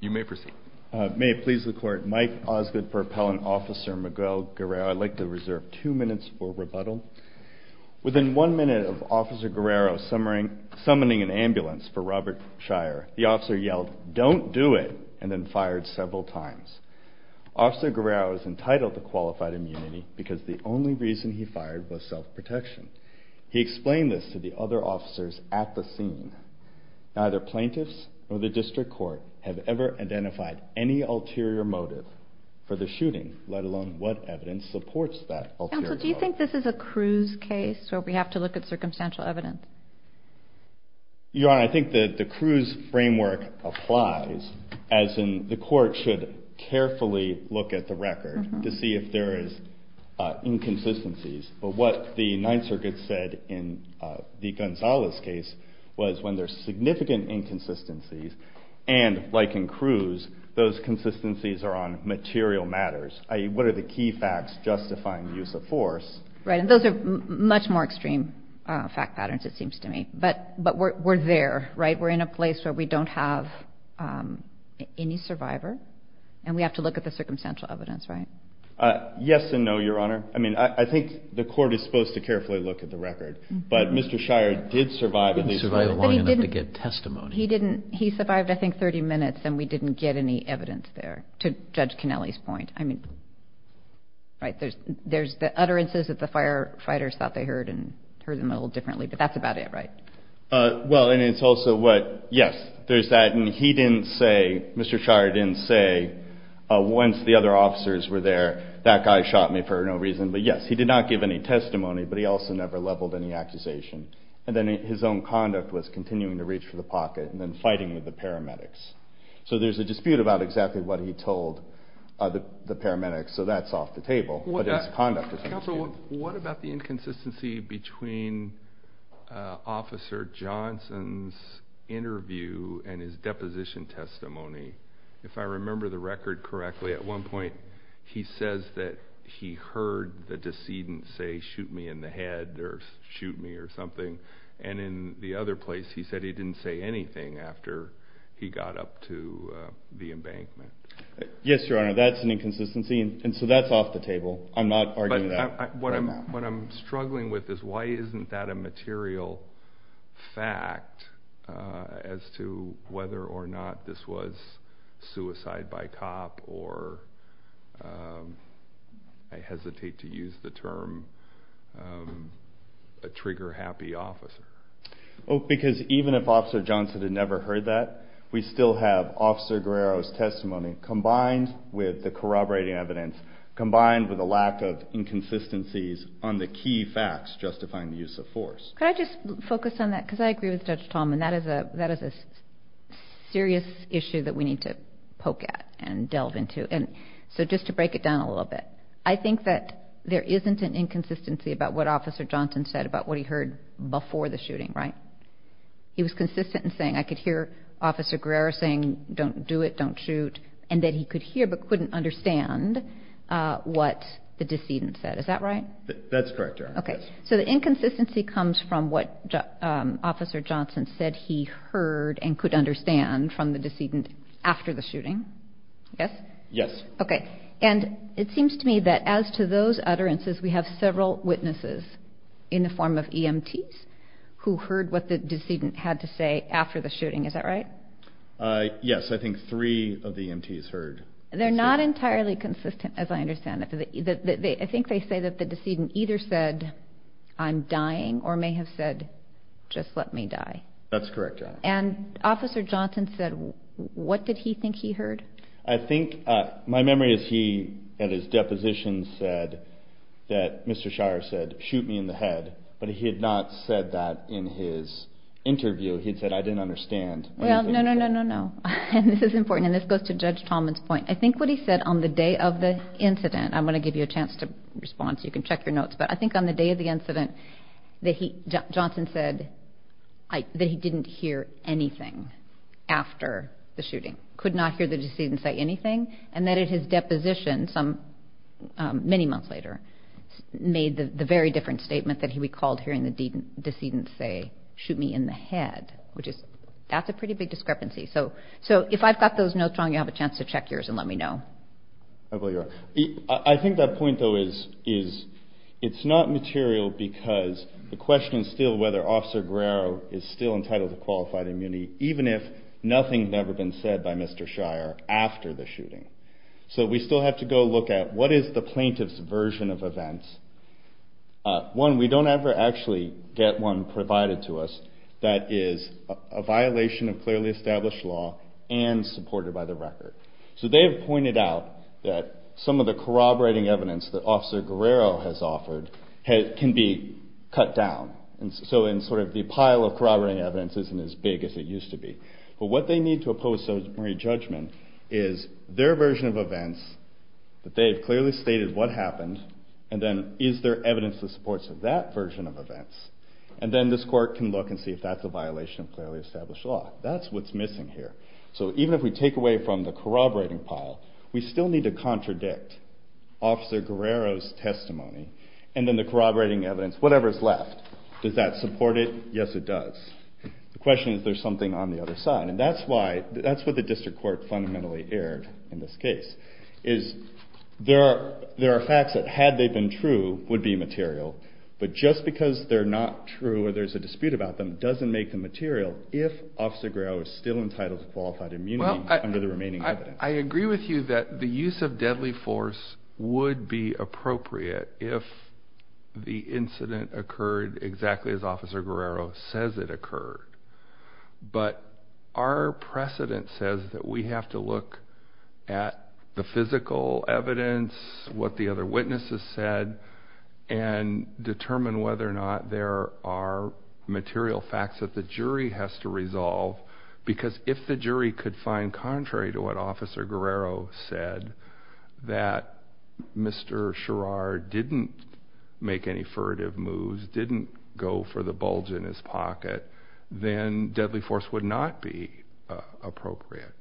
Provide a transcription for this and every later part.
You may proceed. May it please the court, Mike Osgood for Appellant Officer Miguel Guerrero, I'd like to reserve two minutes for rebuttal. Within one minute of Officer Guerrero summoning an ambulance for Robert Shirar, the officer yelled, don't do it, and then fired several times. Officer Guerrero is entitled to qualified immunity because the only reason he fired was self-protection. He explained this to the other officers at the scene. Neither plaintiffs or the district court have ever identified any ulterior motive for the shooting, let alone what evidence supports that ulterior motive. And so do you think this is a Cruz case where we have to look at circumstantial evidence? Your Honor, I think that the Cruz framework applies, as in the court should carefully look at the record to see if there is inconsistencies. But what the Ninth Circuit said in the Gonzales case was when there's significant inconsistencies, and like in Cruz, those consistencies are on material matters, i.e. what are the key facts justifying the use of force. Right, and those are much more extreme fact patterns, it seems to me. But we're there, right? We're in a place where we don't have any survivor, and we have to look at the circumstantial evidence, right? Yes and no, Your Honor. I mean, I think the court is supposed to carefully look at the record. But Mr. Shire did survive at least long enough to get testimony. He survived, I think, 30 minutes, and we didn't get any evidence there, to Judge Kennelly's point. I mean, right, there's the utterances that the firefighters thought they heard, and heard them a little differently, but that's about it, right? Well, and it's also what, yes, there's that, and he didn't say, Mr. Shire didn't say, once the other officers were there, that guy shot me for no reason. But yes, he did not give any testimony, but he also never leveled any accusation. And then his own conduct was continuing to reach for the pocket, and then fighting with the paramedics. So there's a dispute about exactly what he told the paramedics, so that's off the table. But his conduct is not disputed. Counsel, what about the inconsistency between Officer Johnson's interview and his deposition testimony? If I remember the record correctly, at one point, he says that he heard the decedent say, shoot me in the head, or shoot me, or something. And in the other place, he said he didn't say anything after he got up to the embankment. Yes, Your Honor, that's an inconsistency, and so that's off the table. I'm not arguing that. What I'm struggling with is, why isn't that a material fact as to whether or not this was suicide by cop, or, I hesitate to use the term, a trigger-happy officer? Because even if Officer Johnson had never heard that, we still have Officer Guerrero's testimony, combined with the corroborating evidence, combined with a lack of inconsistencies on the key facts justifying the use of force. Could I just focus on that? Because I agree with Judge Tallman. That is a serious issue that we need to poke at and delve into. So just to break it down a little bit, I think that there isn't an inconsistency about what Officer Johnson said about what he heard before the shooting, right? He was consistent in saying, I could hear Officer Guerrero saying, don't do it, don't shoot, and that he could hear but couldn't understand what the decedent said. Is that right? That's correct, Your Honor. Okay. So the inconsistency comes from what Officer Johnson said he heard and could understand from the decedent after the shooting. Yes? Yes. Okay. And it seems to me that as to those utterances, we have several witnesses in the form of EMTs who heard what the decedent had to say after the shooting. Is that right? Yes. I think three of the EMTs heard. They're not entirely consistent, as I understand it. I think they say that the decedent either said, I'm dying, or may have said, just let me die. That's correct, Your Honor. And Officer Johnson said, what did he think he heard? I think my memory is he, at his deposition, said that Mr. Shire said, shoot me in the head. But he had not said that in his interview. He had said, I didn't understand. No, no, no, no, no. This is important, and this goes to Judge Tallman's point. I think what he said on the day of the incident, I'm going to give you a chance to respond so you can check your notes. But I think on the day of the incident, Johnson said that he didn't hear anything after the shooting. He could not hear the decedent say anything, and that at his deposition, many months later, made the very different statement that he recalled hearing the decedent say, shoot me in the head. That's a pretty big discrepancy. So if I've got those notes wrong, you'll have a chance to check yours and let me know. I think that point, though, is it's not material because the question is still whether Officer Guerrero is still entitled to qualified immunity, even if nothing has ever been said by Mr. Shire after the shooting. So we still have to go look at what is the plaintiff's version of events. One, we don't ever actually get one provided to us that is a violation of clearly established law and supported by the record. So they have pointed out that some of the corroborating evidence that Officer Guerrero has offered can be cut down. So the pile of corroborating evidence isn't as big as it used to be. But what they need to oppose some re-judgment is their version of events, that they've clearly stated what happened, and then is there evidence that supports that version of events. And then this court can look and see if that's a violation of clearly established law. That's what's missing here. So even if we take away from the corroborating pile, we still need to contradict Officer Guerrero's testimony and then the corroborating evidence, whatever is left. Does that support it? Yes, it does. The question is, is there something on the other side? And that's what the district court fundamentally erred in this case. There are facts that, had they been true, would be material. But just because they're not true or there's a dispute about them doesn't make them material if Officer Guerrero is still entitled to qualified immunity under the remaining evidence. I agree with you that the use of deadly force would be appropriate if the incident occurred exactly as Officer Guerrero says it occurred. But our precedent says that we have to look at the physical evidence, what the other witnesses said, and determine whether or not there are material facts that the jury has to resolve. Because if the jury could find contrary to what Officer Guerrero said, that Mr. Sherrard didn't make any furtive moves, didn't go for the bulge in his pocket, then deadly force would not be appropriate.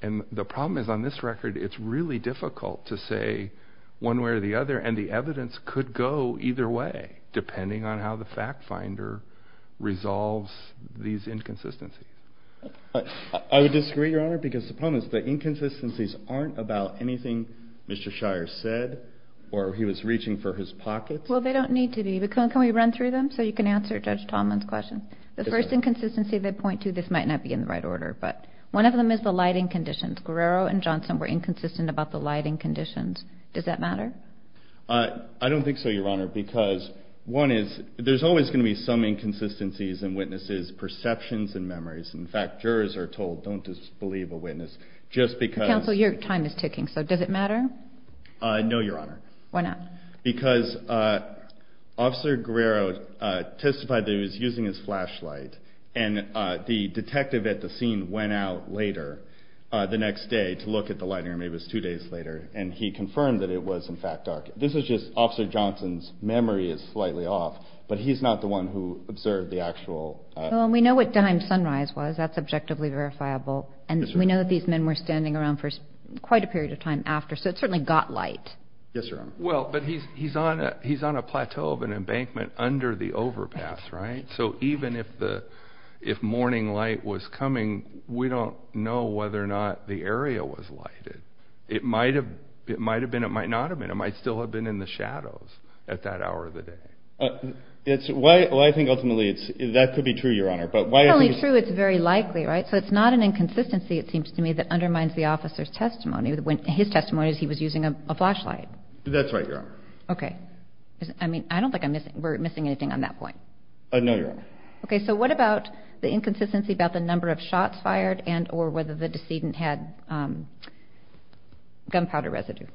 And the problem is, on this record, it's really difficult to say one way or the other, and the evidence could go either way, depending on how the fact finder resolves these inconsistencies. I would disagree, Your Honor, because the problem is the inconsistencies aren't about anything Mr. Sherrard said, or he was reaching for his pocket. Well, they don't need to be. But can we run through them so you can answer Judge Tallman's question? The first inconsistency they point to, this might not be in the right order, but one of them is the lighting conditions. Guerrero and Johnson were inconsistent about the lighting conditions. Does that matter? I don't think so, Your Honor, because one is, there's always going to be some inconsistencies in witnesses' perceptions and memories. In fact, jurors are told, don't disbelieve a witness. Counsel, your time is ticking, so does it matter? No, Your Honor. Why not? Because Officer Guerrero testified that he was using his flashlight, and the detective at the scene went out later the next day to look at the lighting, or maybe it was two days later, and he confirmed that it was in fact dark. This is just Officer Johnson's memory is slightly off, but he's not the one who observed the actual. Well, we know what time sunrise was, that's objectively verifiable, and we know that these men were standing around for quite a period of time after, so it certainly got light. Yes, Your Honor. Well, but he's on a plateau of an embankment under the overpass, right? So even if morning light was coming, we don't know whether or not the area was lighted. It might have been, it might not have been, it might still have been in the shadows at that hour of the day. Well, I think ultimately that could be true, Your Honor. If it's really true, it's very likely, right? So it's not an inconsistency, it seems to me, that undermines the officer's testimony. His testimony is he was using a flashlight. That's right, Your Honor. Okay. I mean, I don't think we're missing anything on that point. No, Your Honor. Okay, so what about the inconsistency about the number of shots fired and or whether the decedent had gunpowder residue?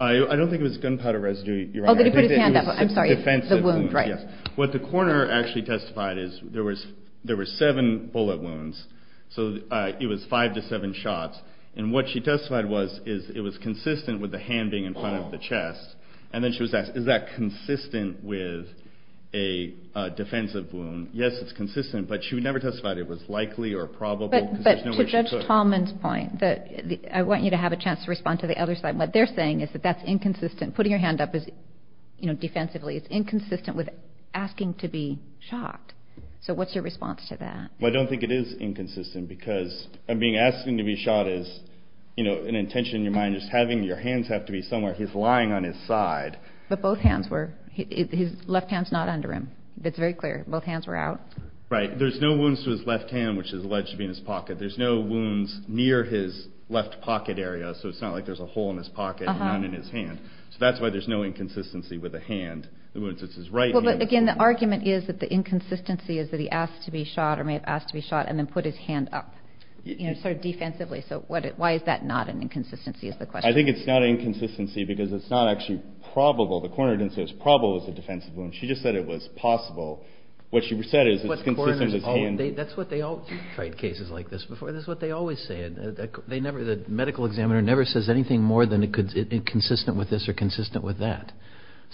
I don't think it was gunpowder residue, Your Honor. Oh, that he put his hand up, I'm sorry. It was defensive wounds, yes. The wound, right. What the coroner actually testified is there were seven bullet wounds, so it was five to seven shots, and what she testified was is it was consistent with the hand being in front of the chest, and then she was asked, is that consistent with a defensive wound? Yes, it's consistent, but she would never testify that it was likely or probable because there's no way she could. But to Judge Tallman's point, I want you to have a chance to respond to the other side. What they're saying is that that's inconsistent. Putting your hand up defensively is inconsistent with asking to be shot. So what's your response to that? I don't think it is inconsistent because asking to be shot is an intention in your mind. Just having your hands have to be somewhere. He's lying on his side. But both hands were. His left hand's not under him. It's very clear. Both hands were out. Right. There's no wounds to his left hand, which is alleged to be in his pocket. There's no wounds near his left pocket area, so it's not like there's a hole in his pocket and none in his hand. So that's why there's no inconsistency with the hand. The wounds, it's his right hand. Well, but again, the argument is that the inconsistency is that he asked to be shot or may have asked to be shot and then put his hand up sort of defensively. So why is that not an inconsistency is the question. I think it's not an inconsistency because it's not actually probable. The coroner didn't say it was probable it was a defensive wound. She just said it was possible. What she said is it's consistent with his hand. That's what they always say. You've tried cases like this before. That's what they always say. The medical examiner never says anything more than it's consistent with this or consistent with that.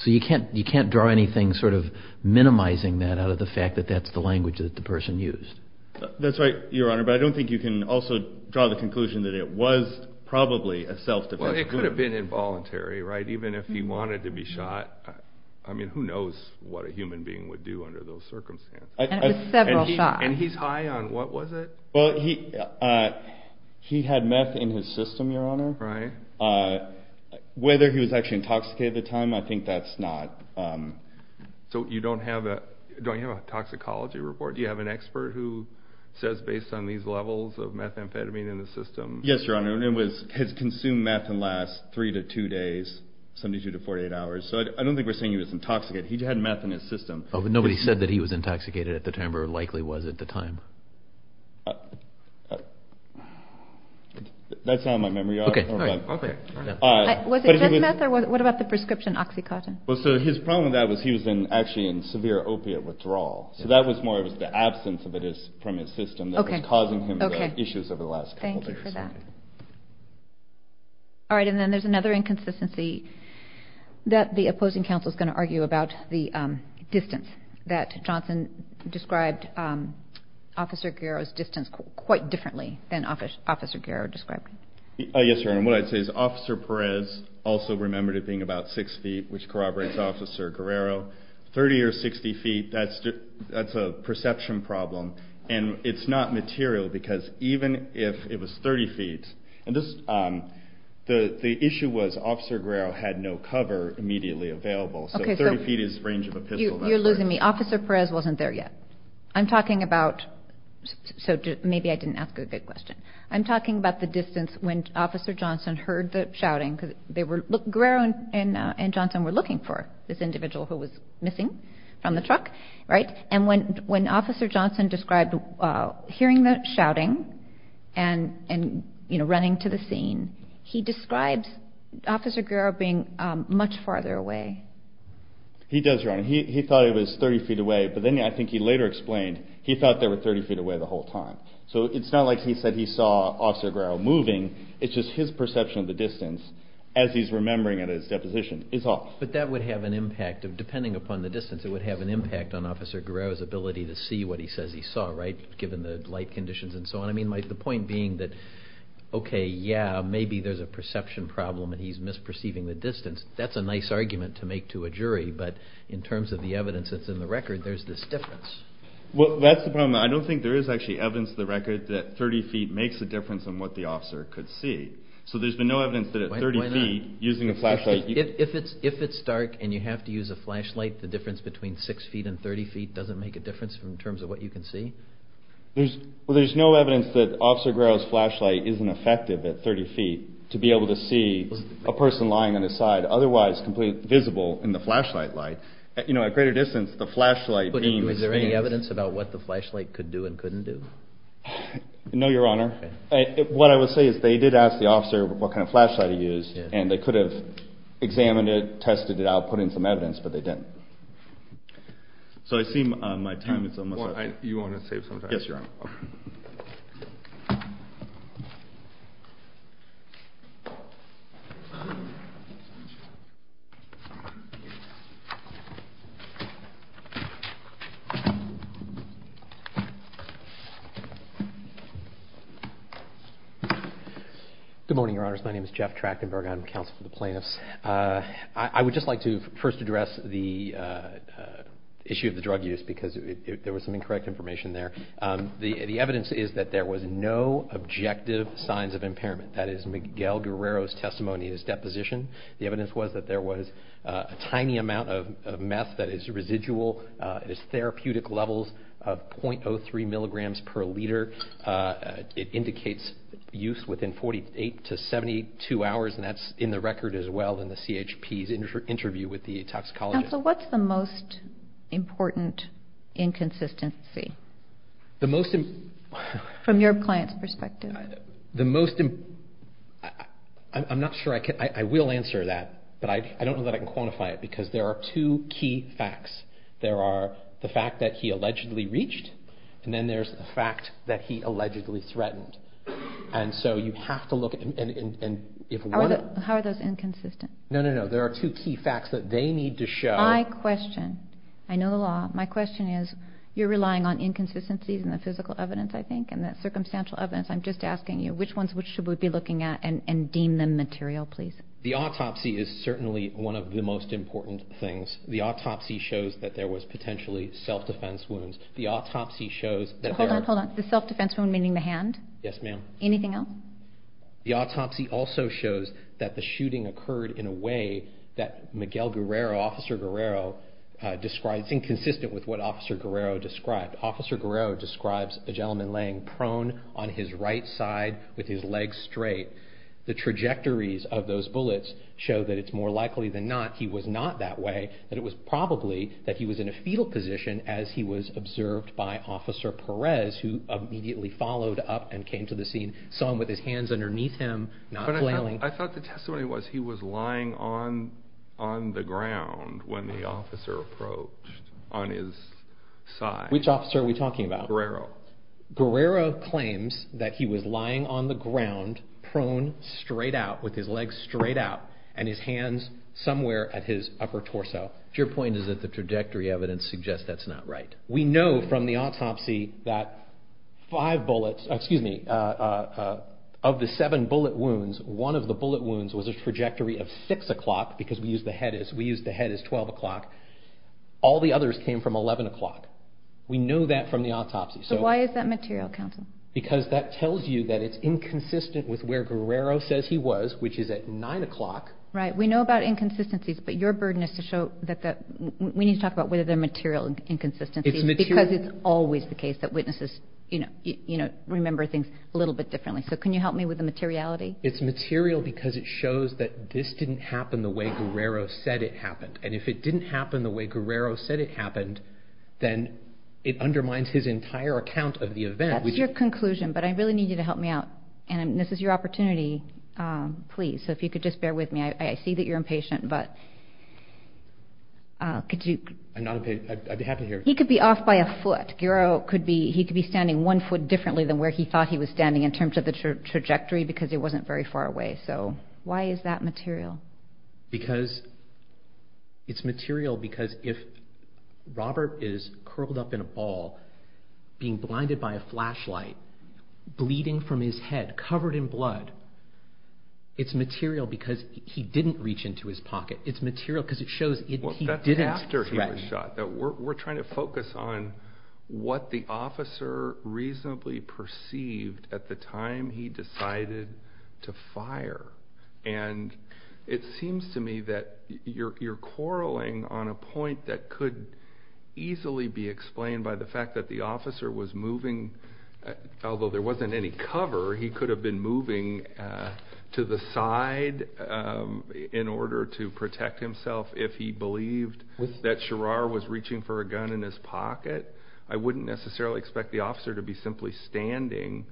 So you can't draw anything sort of minimizing that out of the fact that that's the language that the person used. That's right, Your Honor. But I don't think you can also draw the conclusion that it was probably a self-defense wound. Well, it could have been involuntary, right, even if he wanted to be shot. I mean, who knows what a human being would do under those circumstances. And it was several shots. And he's high on what was it? Well, he had meth in his system, Your Honor. Right. Whether he was actually intoxicated at the time, I think that's not. So you don't have a toxicology report? Do you have an expert who says based on these levels of methamphetamine in the system? Yes, Your Honor. It was his consumed meth in the last three to two days, 72 to 48 hours. So I don't think we're saying he was intoxicated. He had meth in his system. Oh, but nobody said that he was intoxicated at the time or likely was at the time. That's not in my memory. Okay. All right. Was it just meth? Or what about the prescription OxyContin? Well, so his problem with that was he was actually in severe opiate withdrawal. So that was more of the absence of it from his system that was causing him the issues over the last couple days. Okay. Thank you for that. All right. And then there's another inconsistency that the opposing counsel is going to argue about the distance. That Johnson described Officer Guerrero's distance quite differently than Officer Guerrero described it. Yes, Your Honor. And what I'd say is Officer Perez also remembered it being about six feet, which corroborates Officer Guerrero. 30 or 60 feet, that's a perception problem. And it's not material because even if it was 30 feet, and the issue was Officer Guerrero had no cover immediately available. So 30 feet is the range of a pistol. You're losing me. Officer Perez wasn't there yet. I'm talking about – so maybe I didn't ask a good question. I'm talking about the distance when Officer Johnson heard the shouting. Guerrero and Johnson were looking for this individual who was missing from the truck, right? And when Officer Johnson described hearing the shouting and running to the scene, he describes Officer Guerrero being much farther away. He does, Your Honor. He thought he was 30 feet away, but then I think he later explained he thought they were 30 feet away the whole time. So it's not like he said he saw Officer Guerrero moving. It's just his perception of the distance as he's remembering it in his deposition is off. But that would have an impact. Depending upon the distance, it would have an impact on Officer Guerrero's ability to see what he says he saw, right, given the light conditions and so on. I mean, the point being that, okay, yeah, maybe there's a perception problem and he's misperceiving the distance. That's a nice argument to make to a jury, but in terms of the evidence that's in the record, there's this difference. Well, that's the problem. I don't think there is actually evidence in the record that 30 feet makes a difference in what the officer could see. So there's been no evidence that at 30 feet using a flashlight. If it's dark and you have to use a flashlight, the difference between 6 feet and 30 feet doesn't make a difference in terms of what you can see? Well, there's no evidence that Officer Guerrero's flashlight isn't effective at 30 feet to be able to see a person lying on his side, otherwise completely visible in the flashlight light. You know, at greater distance, the flashlight beam... Was there any evidence about what the flashlight could do and couldn't do? No, Your Honor. What I would say is they did ask the officer what kind of flashlight he used, and they could have examined it, tested it out, put in some evidence, but they didn't. So I see my time is almost up. Yes, Your Honor. Thank you. Good morning, Your Honors. My name is Jeff Trachtenberg. I'm counsel for the plaintiffs. I would just like to first address the issue of the drug use because there was some incorrect information there. The evidence is that there was no objective signs of impairment. That is, Miguel Guerrero's testimony is deposition. The evidence was that there was a tiny amount of meth that is residual. It is therapeutic levels of .03 milligrams per liter. It indicates use within 48 to 72 hours, and that's in the record as well in the CHP's interview with the toxicologist. Counsel, what's the most important inconsistency? The most... From your client's perspective. The most... I'm not sure I can... I will answer that, but I don't know that I can quantify it because there are two key facts. There are the fact that he allegedly reached, and then there's the fact that he allegedly threatened. And so you have to look at... How are those inconsistent? No, no, no. There are two key facts that they need to show. My question... I know the law. My question is, you're relying on inconsistencies in the physical evidence, I think, and that circumstantial evidence. I'm just asking you, which ones should we be looking at and deem them material, please? The autopsy is certainly one of the most important things. The autopsy shows that there was potentially self-defense wounds. The autopsy shows that there are... Hold on, hold on. The self-defense wound, meaning the hand? Yes, ma'am. Anything else? The autopsy also shows that the shooting occurred in a way that Miguel Guerrero, Officer Guerrero, described... It's inconsistent with what Officer Guerrero described. Officer Guerrero describes a gentleman laying prone on his right side with his legs straight. The trajectories of those bullets show that it's more likely than not he was not that way, that it was probably that he was in a fetal position as he was observed by Officer Perez, who immediately followed up and came to the scene, saw him with his hands underneath him, not flailing. But I thought the testimony was he was lying on the ground when the officer approached on his side. Which officer are we talking about? Guerrero. Guerrero claims that he was lying on the ground, prone, straight out, with his legs straight out, and his hands somewhere at his upper torso. Your point is that the trajectory evidence suggests that's not right. We know from the autopsy that five bullets, excuse me, of the seven bullet wounds, one of the bullet wounds was a trajectory of 6 o'clock, because we used the head as 12 o'clock. All the others came from 11 o'clock. We know that from the autopsy. So why is that material, counsel? Because that tells you that it's inconsistent with where Guerrero says he was, which is at 9 o'clock. Right. We know about inconsistencies, but your burden is to show that we need to talk about whether they're material inconsistencies, because it's always the case that witnesses remember things a little bit differently. So can you help me with the materiality? It's material because it shows that this didn't happen the way Guerrero said it happened. And if it didn't happen the way Guerrero said it happened, then it undermines his entire account of the event. That's your conclusion, but I really need you to help me out. And this is your opportunity, please. So if you could just bear with me. I see that you're impatient, but could you... I'm not impatient. I'd be happy to hear it. He could be off by a foot. Guerrero could be standing one foot differently than where he thought he was standing in terms of the trajectory, because it wasn't very far away. So why is that material? Because it's material because if Robert is curled up in a ball, being blinded by a flashlight, bleeding from his head, covered in blood, it's material because he didn't reach into his pocket. It's material because it shows he didn't threaten. That's after he was shot. We're trying to focus on what the officer reasonably perceived at the time he decided to fire. And it seems to me that you're quarreling on a point that could easily be explained by the fact that the officer was moving, although there wasn't any cover, he could have been moving to the side in order to protect himself if he believed that Sherrar was reaching for a gun in his pocket. I wouldn't necessarily expect the officer to be simply standing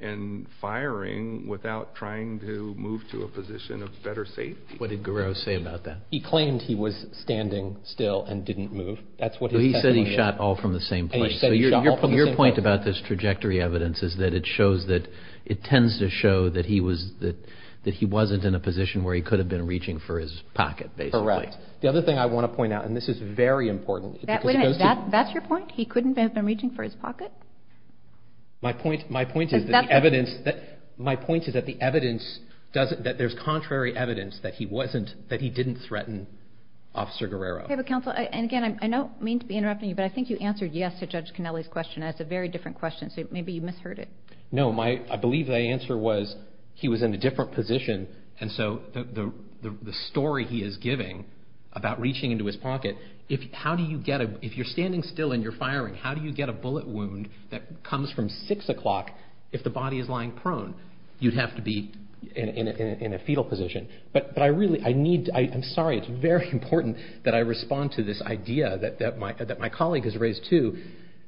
and firing without trying to move to a position of better safety. What did Guerrero say about that? He claimed he was standing still and didn't move. That's what his testimony is. So he said he shot all from the same place. And he said he shot all from the same place. So your point about this trajectory evidence is that it shows that, it tends to show that he wasn't in a position where he could have been reaching for his pocket, basically. Correct. The other thing I want to point out, and this is very important. That's your point? He couldn't have been reaching for his pocket? My point is that the evidence, that there's contrary evidence that he wasn't, that he didn't threaten Officer Guerrero. And again, I don't mean to be interrupting you, but I think you answered yes to Judge Canelli's question. That's a very different question, so maybe you misheard it. No, I believe the answer was he was in a different position, and so the story he is giving about reaching into his pocket, if you're standing still and you're firing, how do you get a bullet wound that comes from 6 o'clock if the body is lying prone? You'd have to be in a fetal position. But I really, I need, I'm sorry, it's very important that I respond to this idea that my colleague has raised too,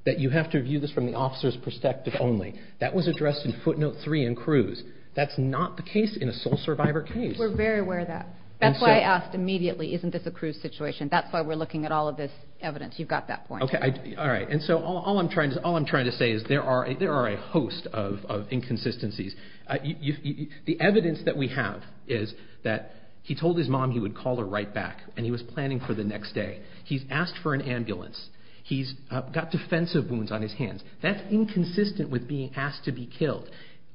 that you have to view this from the officer's perspective only. That was addressed in footnote 3 in Cruz. That's not the case in a sole survivor case. We're very aware of that. That's why I asked immediately, isn't this a Cruz situation? That's why we're looking at all of this evidence. You've got that point. All right, and so all I'm trying to say is there are a host of inconsistencies. The evidence that we have is that he told his mom he would call her right back, and he was planning for the next day. He's asked for an ambulance. He's got defensive wounds on his hands. That's inconsistent with being asked to be killed.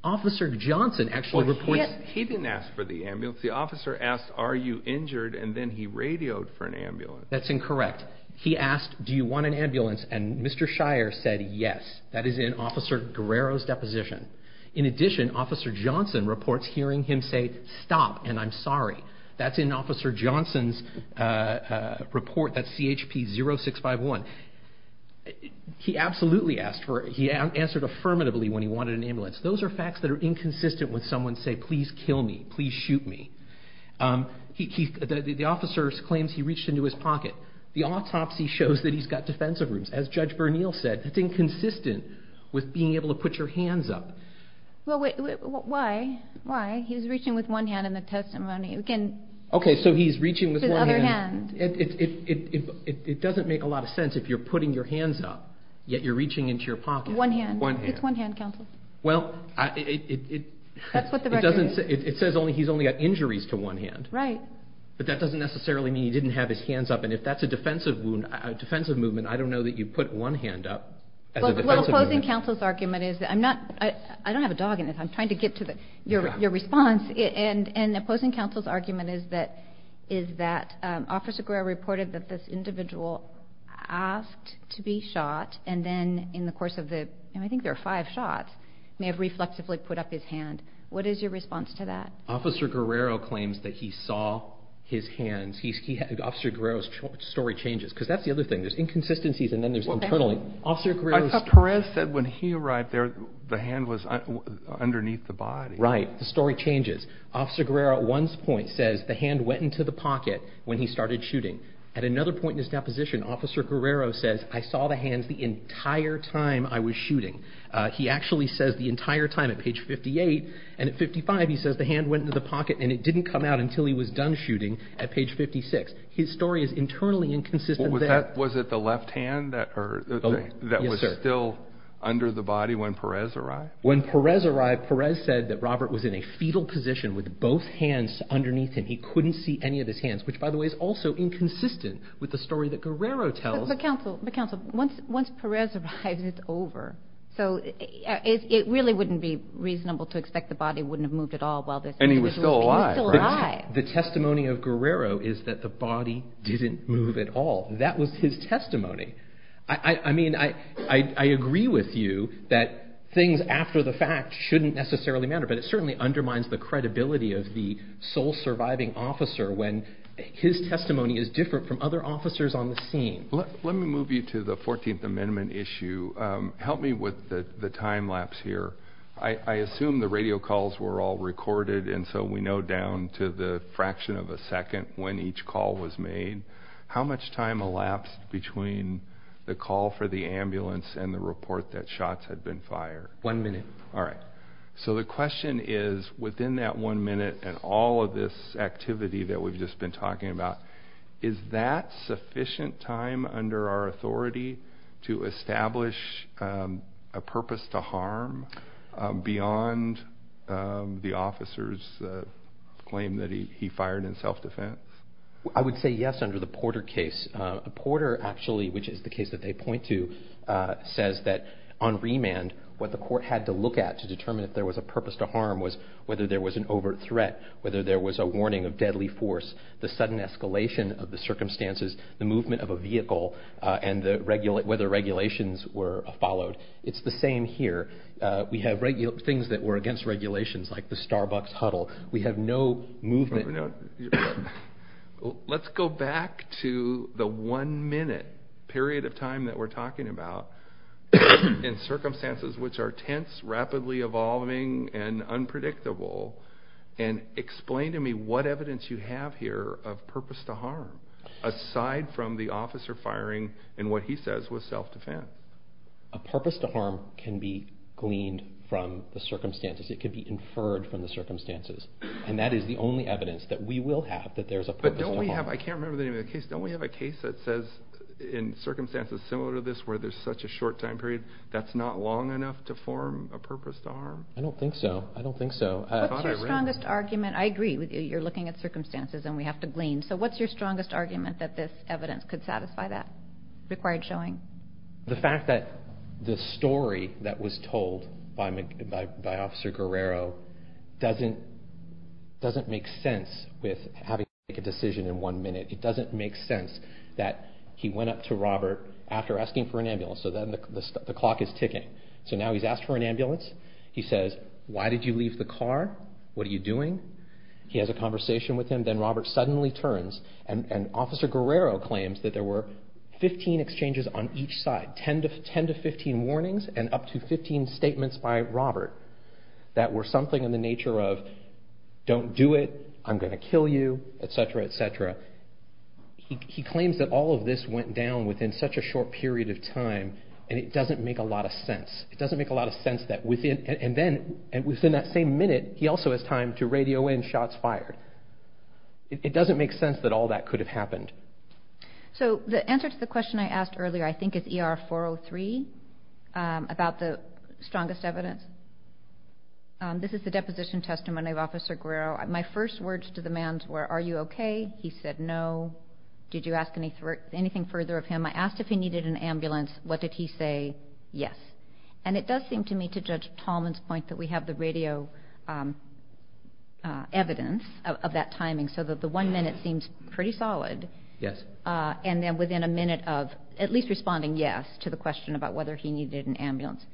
Officer Johnson actually reports... He didn't ask for the ambulance. The officer asked, are you injured, and then he radioed for an ambulance. That's incorrect. He asked, do you want an ambulance, and Mr. Shire said yes. That is in Officer Guerrero's deposition. In addition, Officer Johnson reports hearing him say, stop, and I'm sorry. That's in Officer Johnson's report. That's CHP 0651. He absolutely asked for it. He answered affirmatively when he wanted an ambulance. Those are facts that are inconsistent with someone saying, please kill me. Please shoot me. The officer claims he reached into his pocket. The autopsy shows that he's got defensive wounds. As Judge Bernil said, that's inconsistent with being able to put your hands up. Why? He was reaching with one hand in the testimony. Okay, so he's reaching with one hand. With his other hand. It doesn't make a lot of sense if you're putting your hands up, yet you're reaching into your pocket. One hand. It's one hand, counsel. Well, it says he's only got injuries to one hand. Right. But that doesn't necessarily mean he didn't have his hands up, and if that's a defensive movement, I don't know that you put one hand up as a defensive movement. Well, opposing counsel's argument is, I don't have a dog in this. I'm trying to get to your response. And opposing counsel's argument is that Officer Guerrero reported that this individual asked to be shot, and then in the course of the, I think there were five shots, may have reflexively put up his hand. What is your response to that? Officer Guerrero claims that he saw his hands. Officer Guerrero's story changes. Because that's the other thing. There's inconsistencies, and then there's internally. I thought Perez said when he arrived there, the hand was underneath the body. Right. The story changes. Officer Guerrero at one point says the hand went into the pocket when he started shooting. At another point in his deposition, Officer Guerrero says, I saw the hands the entire time I was shooting. He actually says the entire time at page 58. And at 55, he says the hand went into the pocket, and it didn't come out until he was done shooting at page 56. His story is internally inconsistent there. Was it the left hand that was still under the body when Perez arrived? When Perez arrived, Perez said that Robert was in a fetal position with both hands underneath him. He couldn't see any of his hands, which, by the way, is also inconsistent with the story that Guerrero tells. But counsel, once Perez arrives, it's over. So it really wouldn't be reasonable to expect the body wouldn't have moved at all while this was happening. And he was still alive, right? He was still alive. The testimony of Guerrero is that the body didn't move at all. That was his testimony. I mean, I agree with you that things after the fact shouldn't necessarily matter. But it certainly undermines the credibility of the sole surviving officer when his testimony is different from other officers on the scene. Let me move you to the 14th Amendment issue. Help me with the time lapse here. I assume the radio calls were all recorded, and so we know down to the fraction of a second when each call was made. How much time elapsed between the call for the ambulance and the report that shots had been fired? One minute. All right. So the question is, within that one minute and all of this activity that we've just been talking about, is that sufficient time under our authority to establish a purpose to harm beyond the officer's claim that he fired in self-defense? I would say yes under the Porter case. Porter actually, which is the case that they point to, says that on remand what the court had to look at to determine if there was a purpose to harm was whether there was an overt threat, whether there was a warning of deadly force, the sudden escalation of the circumstances, the movement of a vehicle, and whether regulations were followed. It's the same here. We have things that were against regulations, like the Starbucks huddle. We have no movement. Let's go back to the one minute period of time that we're talking about in circumstances which are tense, rapidly evolving, and unpredictable. Explain to me what evidence you have here of purpose to harm aside from the officer firing and what he says was self-defense. A purpose to harm can be gleaned from the circumstances. It can be inferred from the circumstances. That is the only evidence that we will have that there is a purpose to harm. I can't remember the name of the case. Don't we have a case that says in circumstances similar to this where there's such a short time period that's not long enough to form a purpose to harm? I don't think so. What's your strongest argument? I agree with you. You're looking at circumstances and we have to glean. What's your strongest argument that this evidence could satisfy that required showing? The fact that the story that was told by Officer Guerrero doesn't make sense with having to make a decision in one minute. It doesn't make sense that he went up to Robert after asking for an ambulance. Now he's asked for an ambulance. He says, why did you leave the car? What are you doing? He has a conversation with him. Then Robert suddenly turns and Officer Guerrero claims that there were 15 exchanges on each side. 10 to 15 warnings and up to 15 statements by Robert that were something in the nature of don't do it, I'm going to kill you, etc., etc. He claims that all of this went down within such a short period of time and it doesn't make a lot of sense. It doesn't make a lot of sense that within that same minute he also has time to radio in shots fired. It doesn't make sense that all that could have happened. So the answer to the question I asked earlier I think is ER 403 about the strongest evidence. This is the deposition testimony of Officer Guerrero. My first words to the man were, are you okay? He said no. Did you ask anything further of him? I asked if he needed an ambulance. What did he say? Yes. And it does seem to me to Judge Tallman's point that we have the radio evidence of that timing so that the one minute seems pretty solid. Yes. And then within a minute of at least responding yes to the question about whether he needed an ambulance,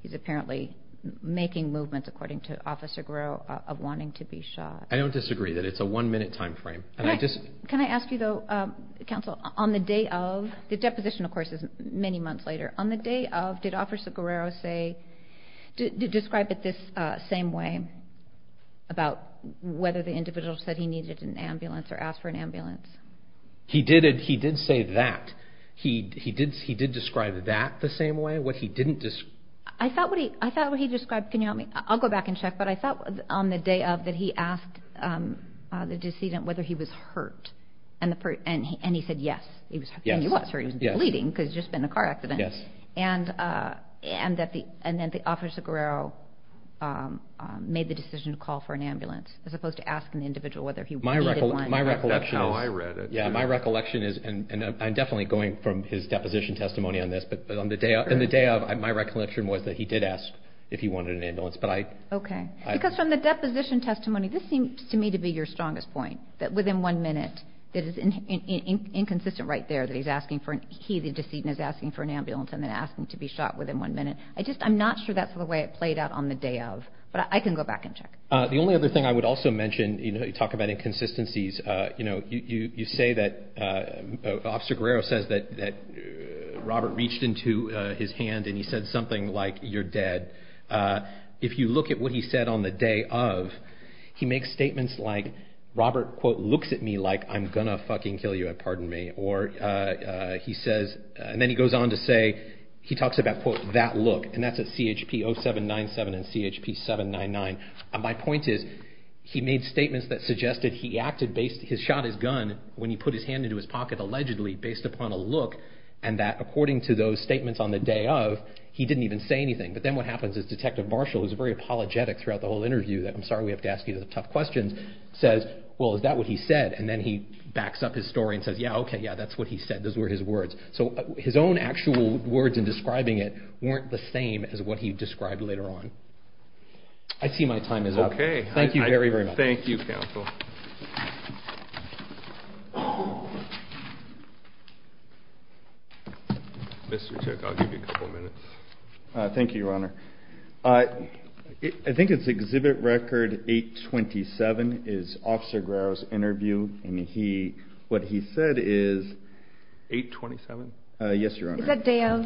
he's apparently making movements according to Officer Guerrero of wanting to be shot. I don't disagree that it's a one minute time frame. Can I ask you though, counsel, on the day of, the deposition of course is many months later. On the day of, did Officer Guerrero say, describe it this same way about whether the individual said he needed an ambulance or asked for an ambulance? He did say that. He did describe that the same way, what he didn't describe. I thought what he described, can you help me? I'll go back and check, but I thought on the day of that he asked the decedent whether he was hurt and he said yes. Yes. And he was, or he was bleeding because he had just been in a car accident. Yes. And then the Officer Guerrero made the decision to call for an ambulance as opposed to asking the individual whether he needed one. That's how I read it. My recollection is, and I'm definitely going from his deposition testimony on this, but on the day of my recollection was that he did ask if he wanted an ambulance. Okay. Because from the deposition testimony, this seems to me to be your strongest point, that within one minute, that is inconsistent right there that he's asking for, he, the decedent, is asking for an ambulance and then asking to be shot within one minute. I just, I'm not sure that's the way it played out on the day of, but I can go back and check. The only other thing I would also mention, you know, you talk about inconsistencies, you know, you say that Officer Guerrero says that Robert reached into his hand and he said something like, you're dead. If you look at what he said on the day of, he makes statements like, Robert, quote, looks at me like I'm going to fucking kill you, pardon me. Or he says, and then he goes on to say, he talks about, quote, that look. And that's at CHP 0797 and CHP 799. And my point is, he made statements that suggested he acted based, he shot his gun when he put his hand into his pocket allegedly based upon a look and that according to those statements on the day of, he didn't even say anything. But then what happens is Detective Marshall, who's very apologetic throughout the whole interview, that I'm sorry we have to ask you the tough questions, says, well, is that what he said? And then he backs up his story and says, yeah, okay, yeah, that's what he said. Those were his words. So his own actual words in describing it weren't the same as what he described later on. I see my time is up. Okay. Thank you very, very much. Thank you, counsel. Mr. Chick, I'll give you a couple minutes. Thank you, Your Honor. I think it's exhibit record 827 is Officer Grower's interview. And what he said is 827? Yes, Your Honor. Is that day of?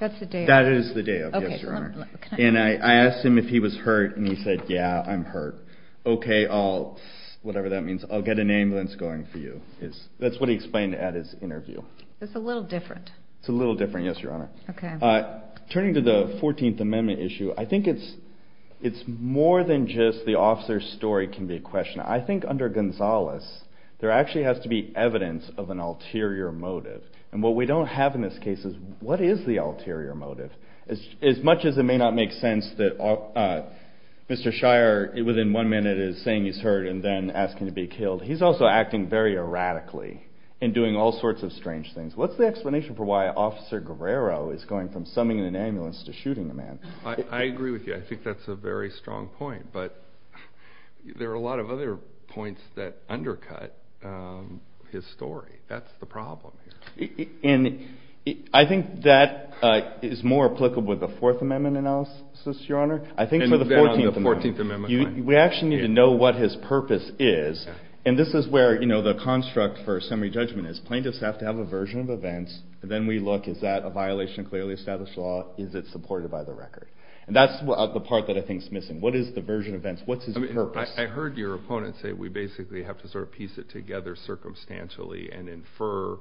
That's the day of. That is the day of, yes, Your Honor. And I asked him if he was hurt, and he said, yeah, I'm hurt. Okay, I'll, whatever that means, I'll get an ambulance going for you. That's what he explained at his interview. It's a little different. It's a little different, yes, Your Honor. Okay. Turning to the 14th Amendment issue, I think it's more than just the officer's story can be a question. I think under Gonzales, there actually has to be evidence of an ulterior motive. And what we don't have in this case is what is the ulterior motive? As much as it may not make sense that Mr. Shire, within one minute, is saying he's hurt and then asking to be killed, he's also acting very erratically and doing all sorts of strange things. What's the explanation for why Officer Guerrero is going from summoning an ambulance to shooting a man? I agree with you. I think that's a very strong point. But there are a lot of other points that undercut his story. That's the problem here. And I think that is more applicable with the Fourth Amendment analysis, Your Honor. I think for the 14th Amendment. And then on the 14th Amendment. We actually need to know what his purpose is. And this is where the construct for summary judgment is. Plaintiffs have to have a version of events. Then we look. Is that a violation of clearly established law? Is it supported by the record? And that's the part that I think is missing. What is the version of events? What's his purpose? I heard your opponent say we basically have to sort of piece it together circumstantially and infer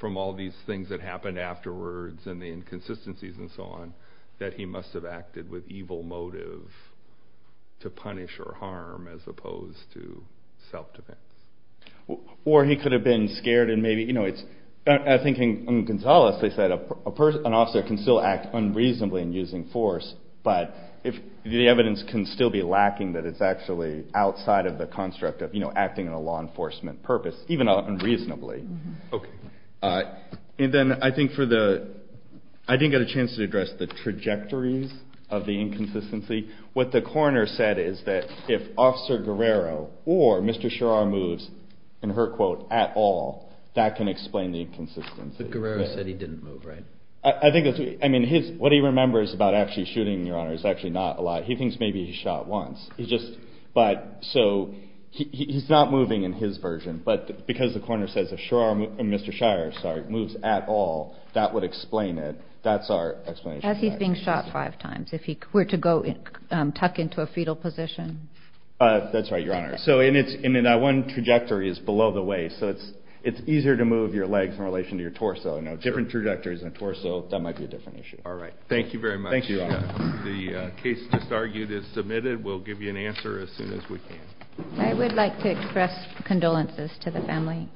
from all these things that happened afterwards and the inconsistencies and so on that he must have acted with evil motive to punish or harm as opposed to self-defense. Or he could have been scared. I think in Gonzales they said an officer can still act unreasonably in using force. But the evidence can still be lacking that it's actually outside of the construct of acting in a law enforcement purpose, even unreasonably. Okay. And then I didn't get a chance to address the trajectories of the inconsistency. What the coroner said is that if Officer Guerrero or Mr. Sherrar moves in her quote at all, that can explain the inconsistency. But Guerrero said he didn't move, right? What he remembers about actually shooting, Your Honor, is actually not a lot. He thinks maybe he shot once. So he's not moving in his version. But because the coroner says if Mr. Sherrar moves at all, that would explain it. That's our explanation. As he's being shot five times, if he were to tuck into a fetal position. That's right, Your Honor. And that one trajectory is below the waist, so it's easier to move your legs in relation to your torso. Now, different trajectories in a torso, that might be a different issue. All right. Thank you very much. Thank you, Your Honor. The case just argued is submitted. We'll give you an answer as soon as we can. I would like to express condolences to the family.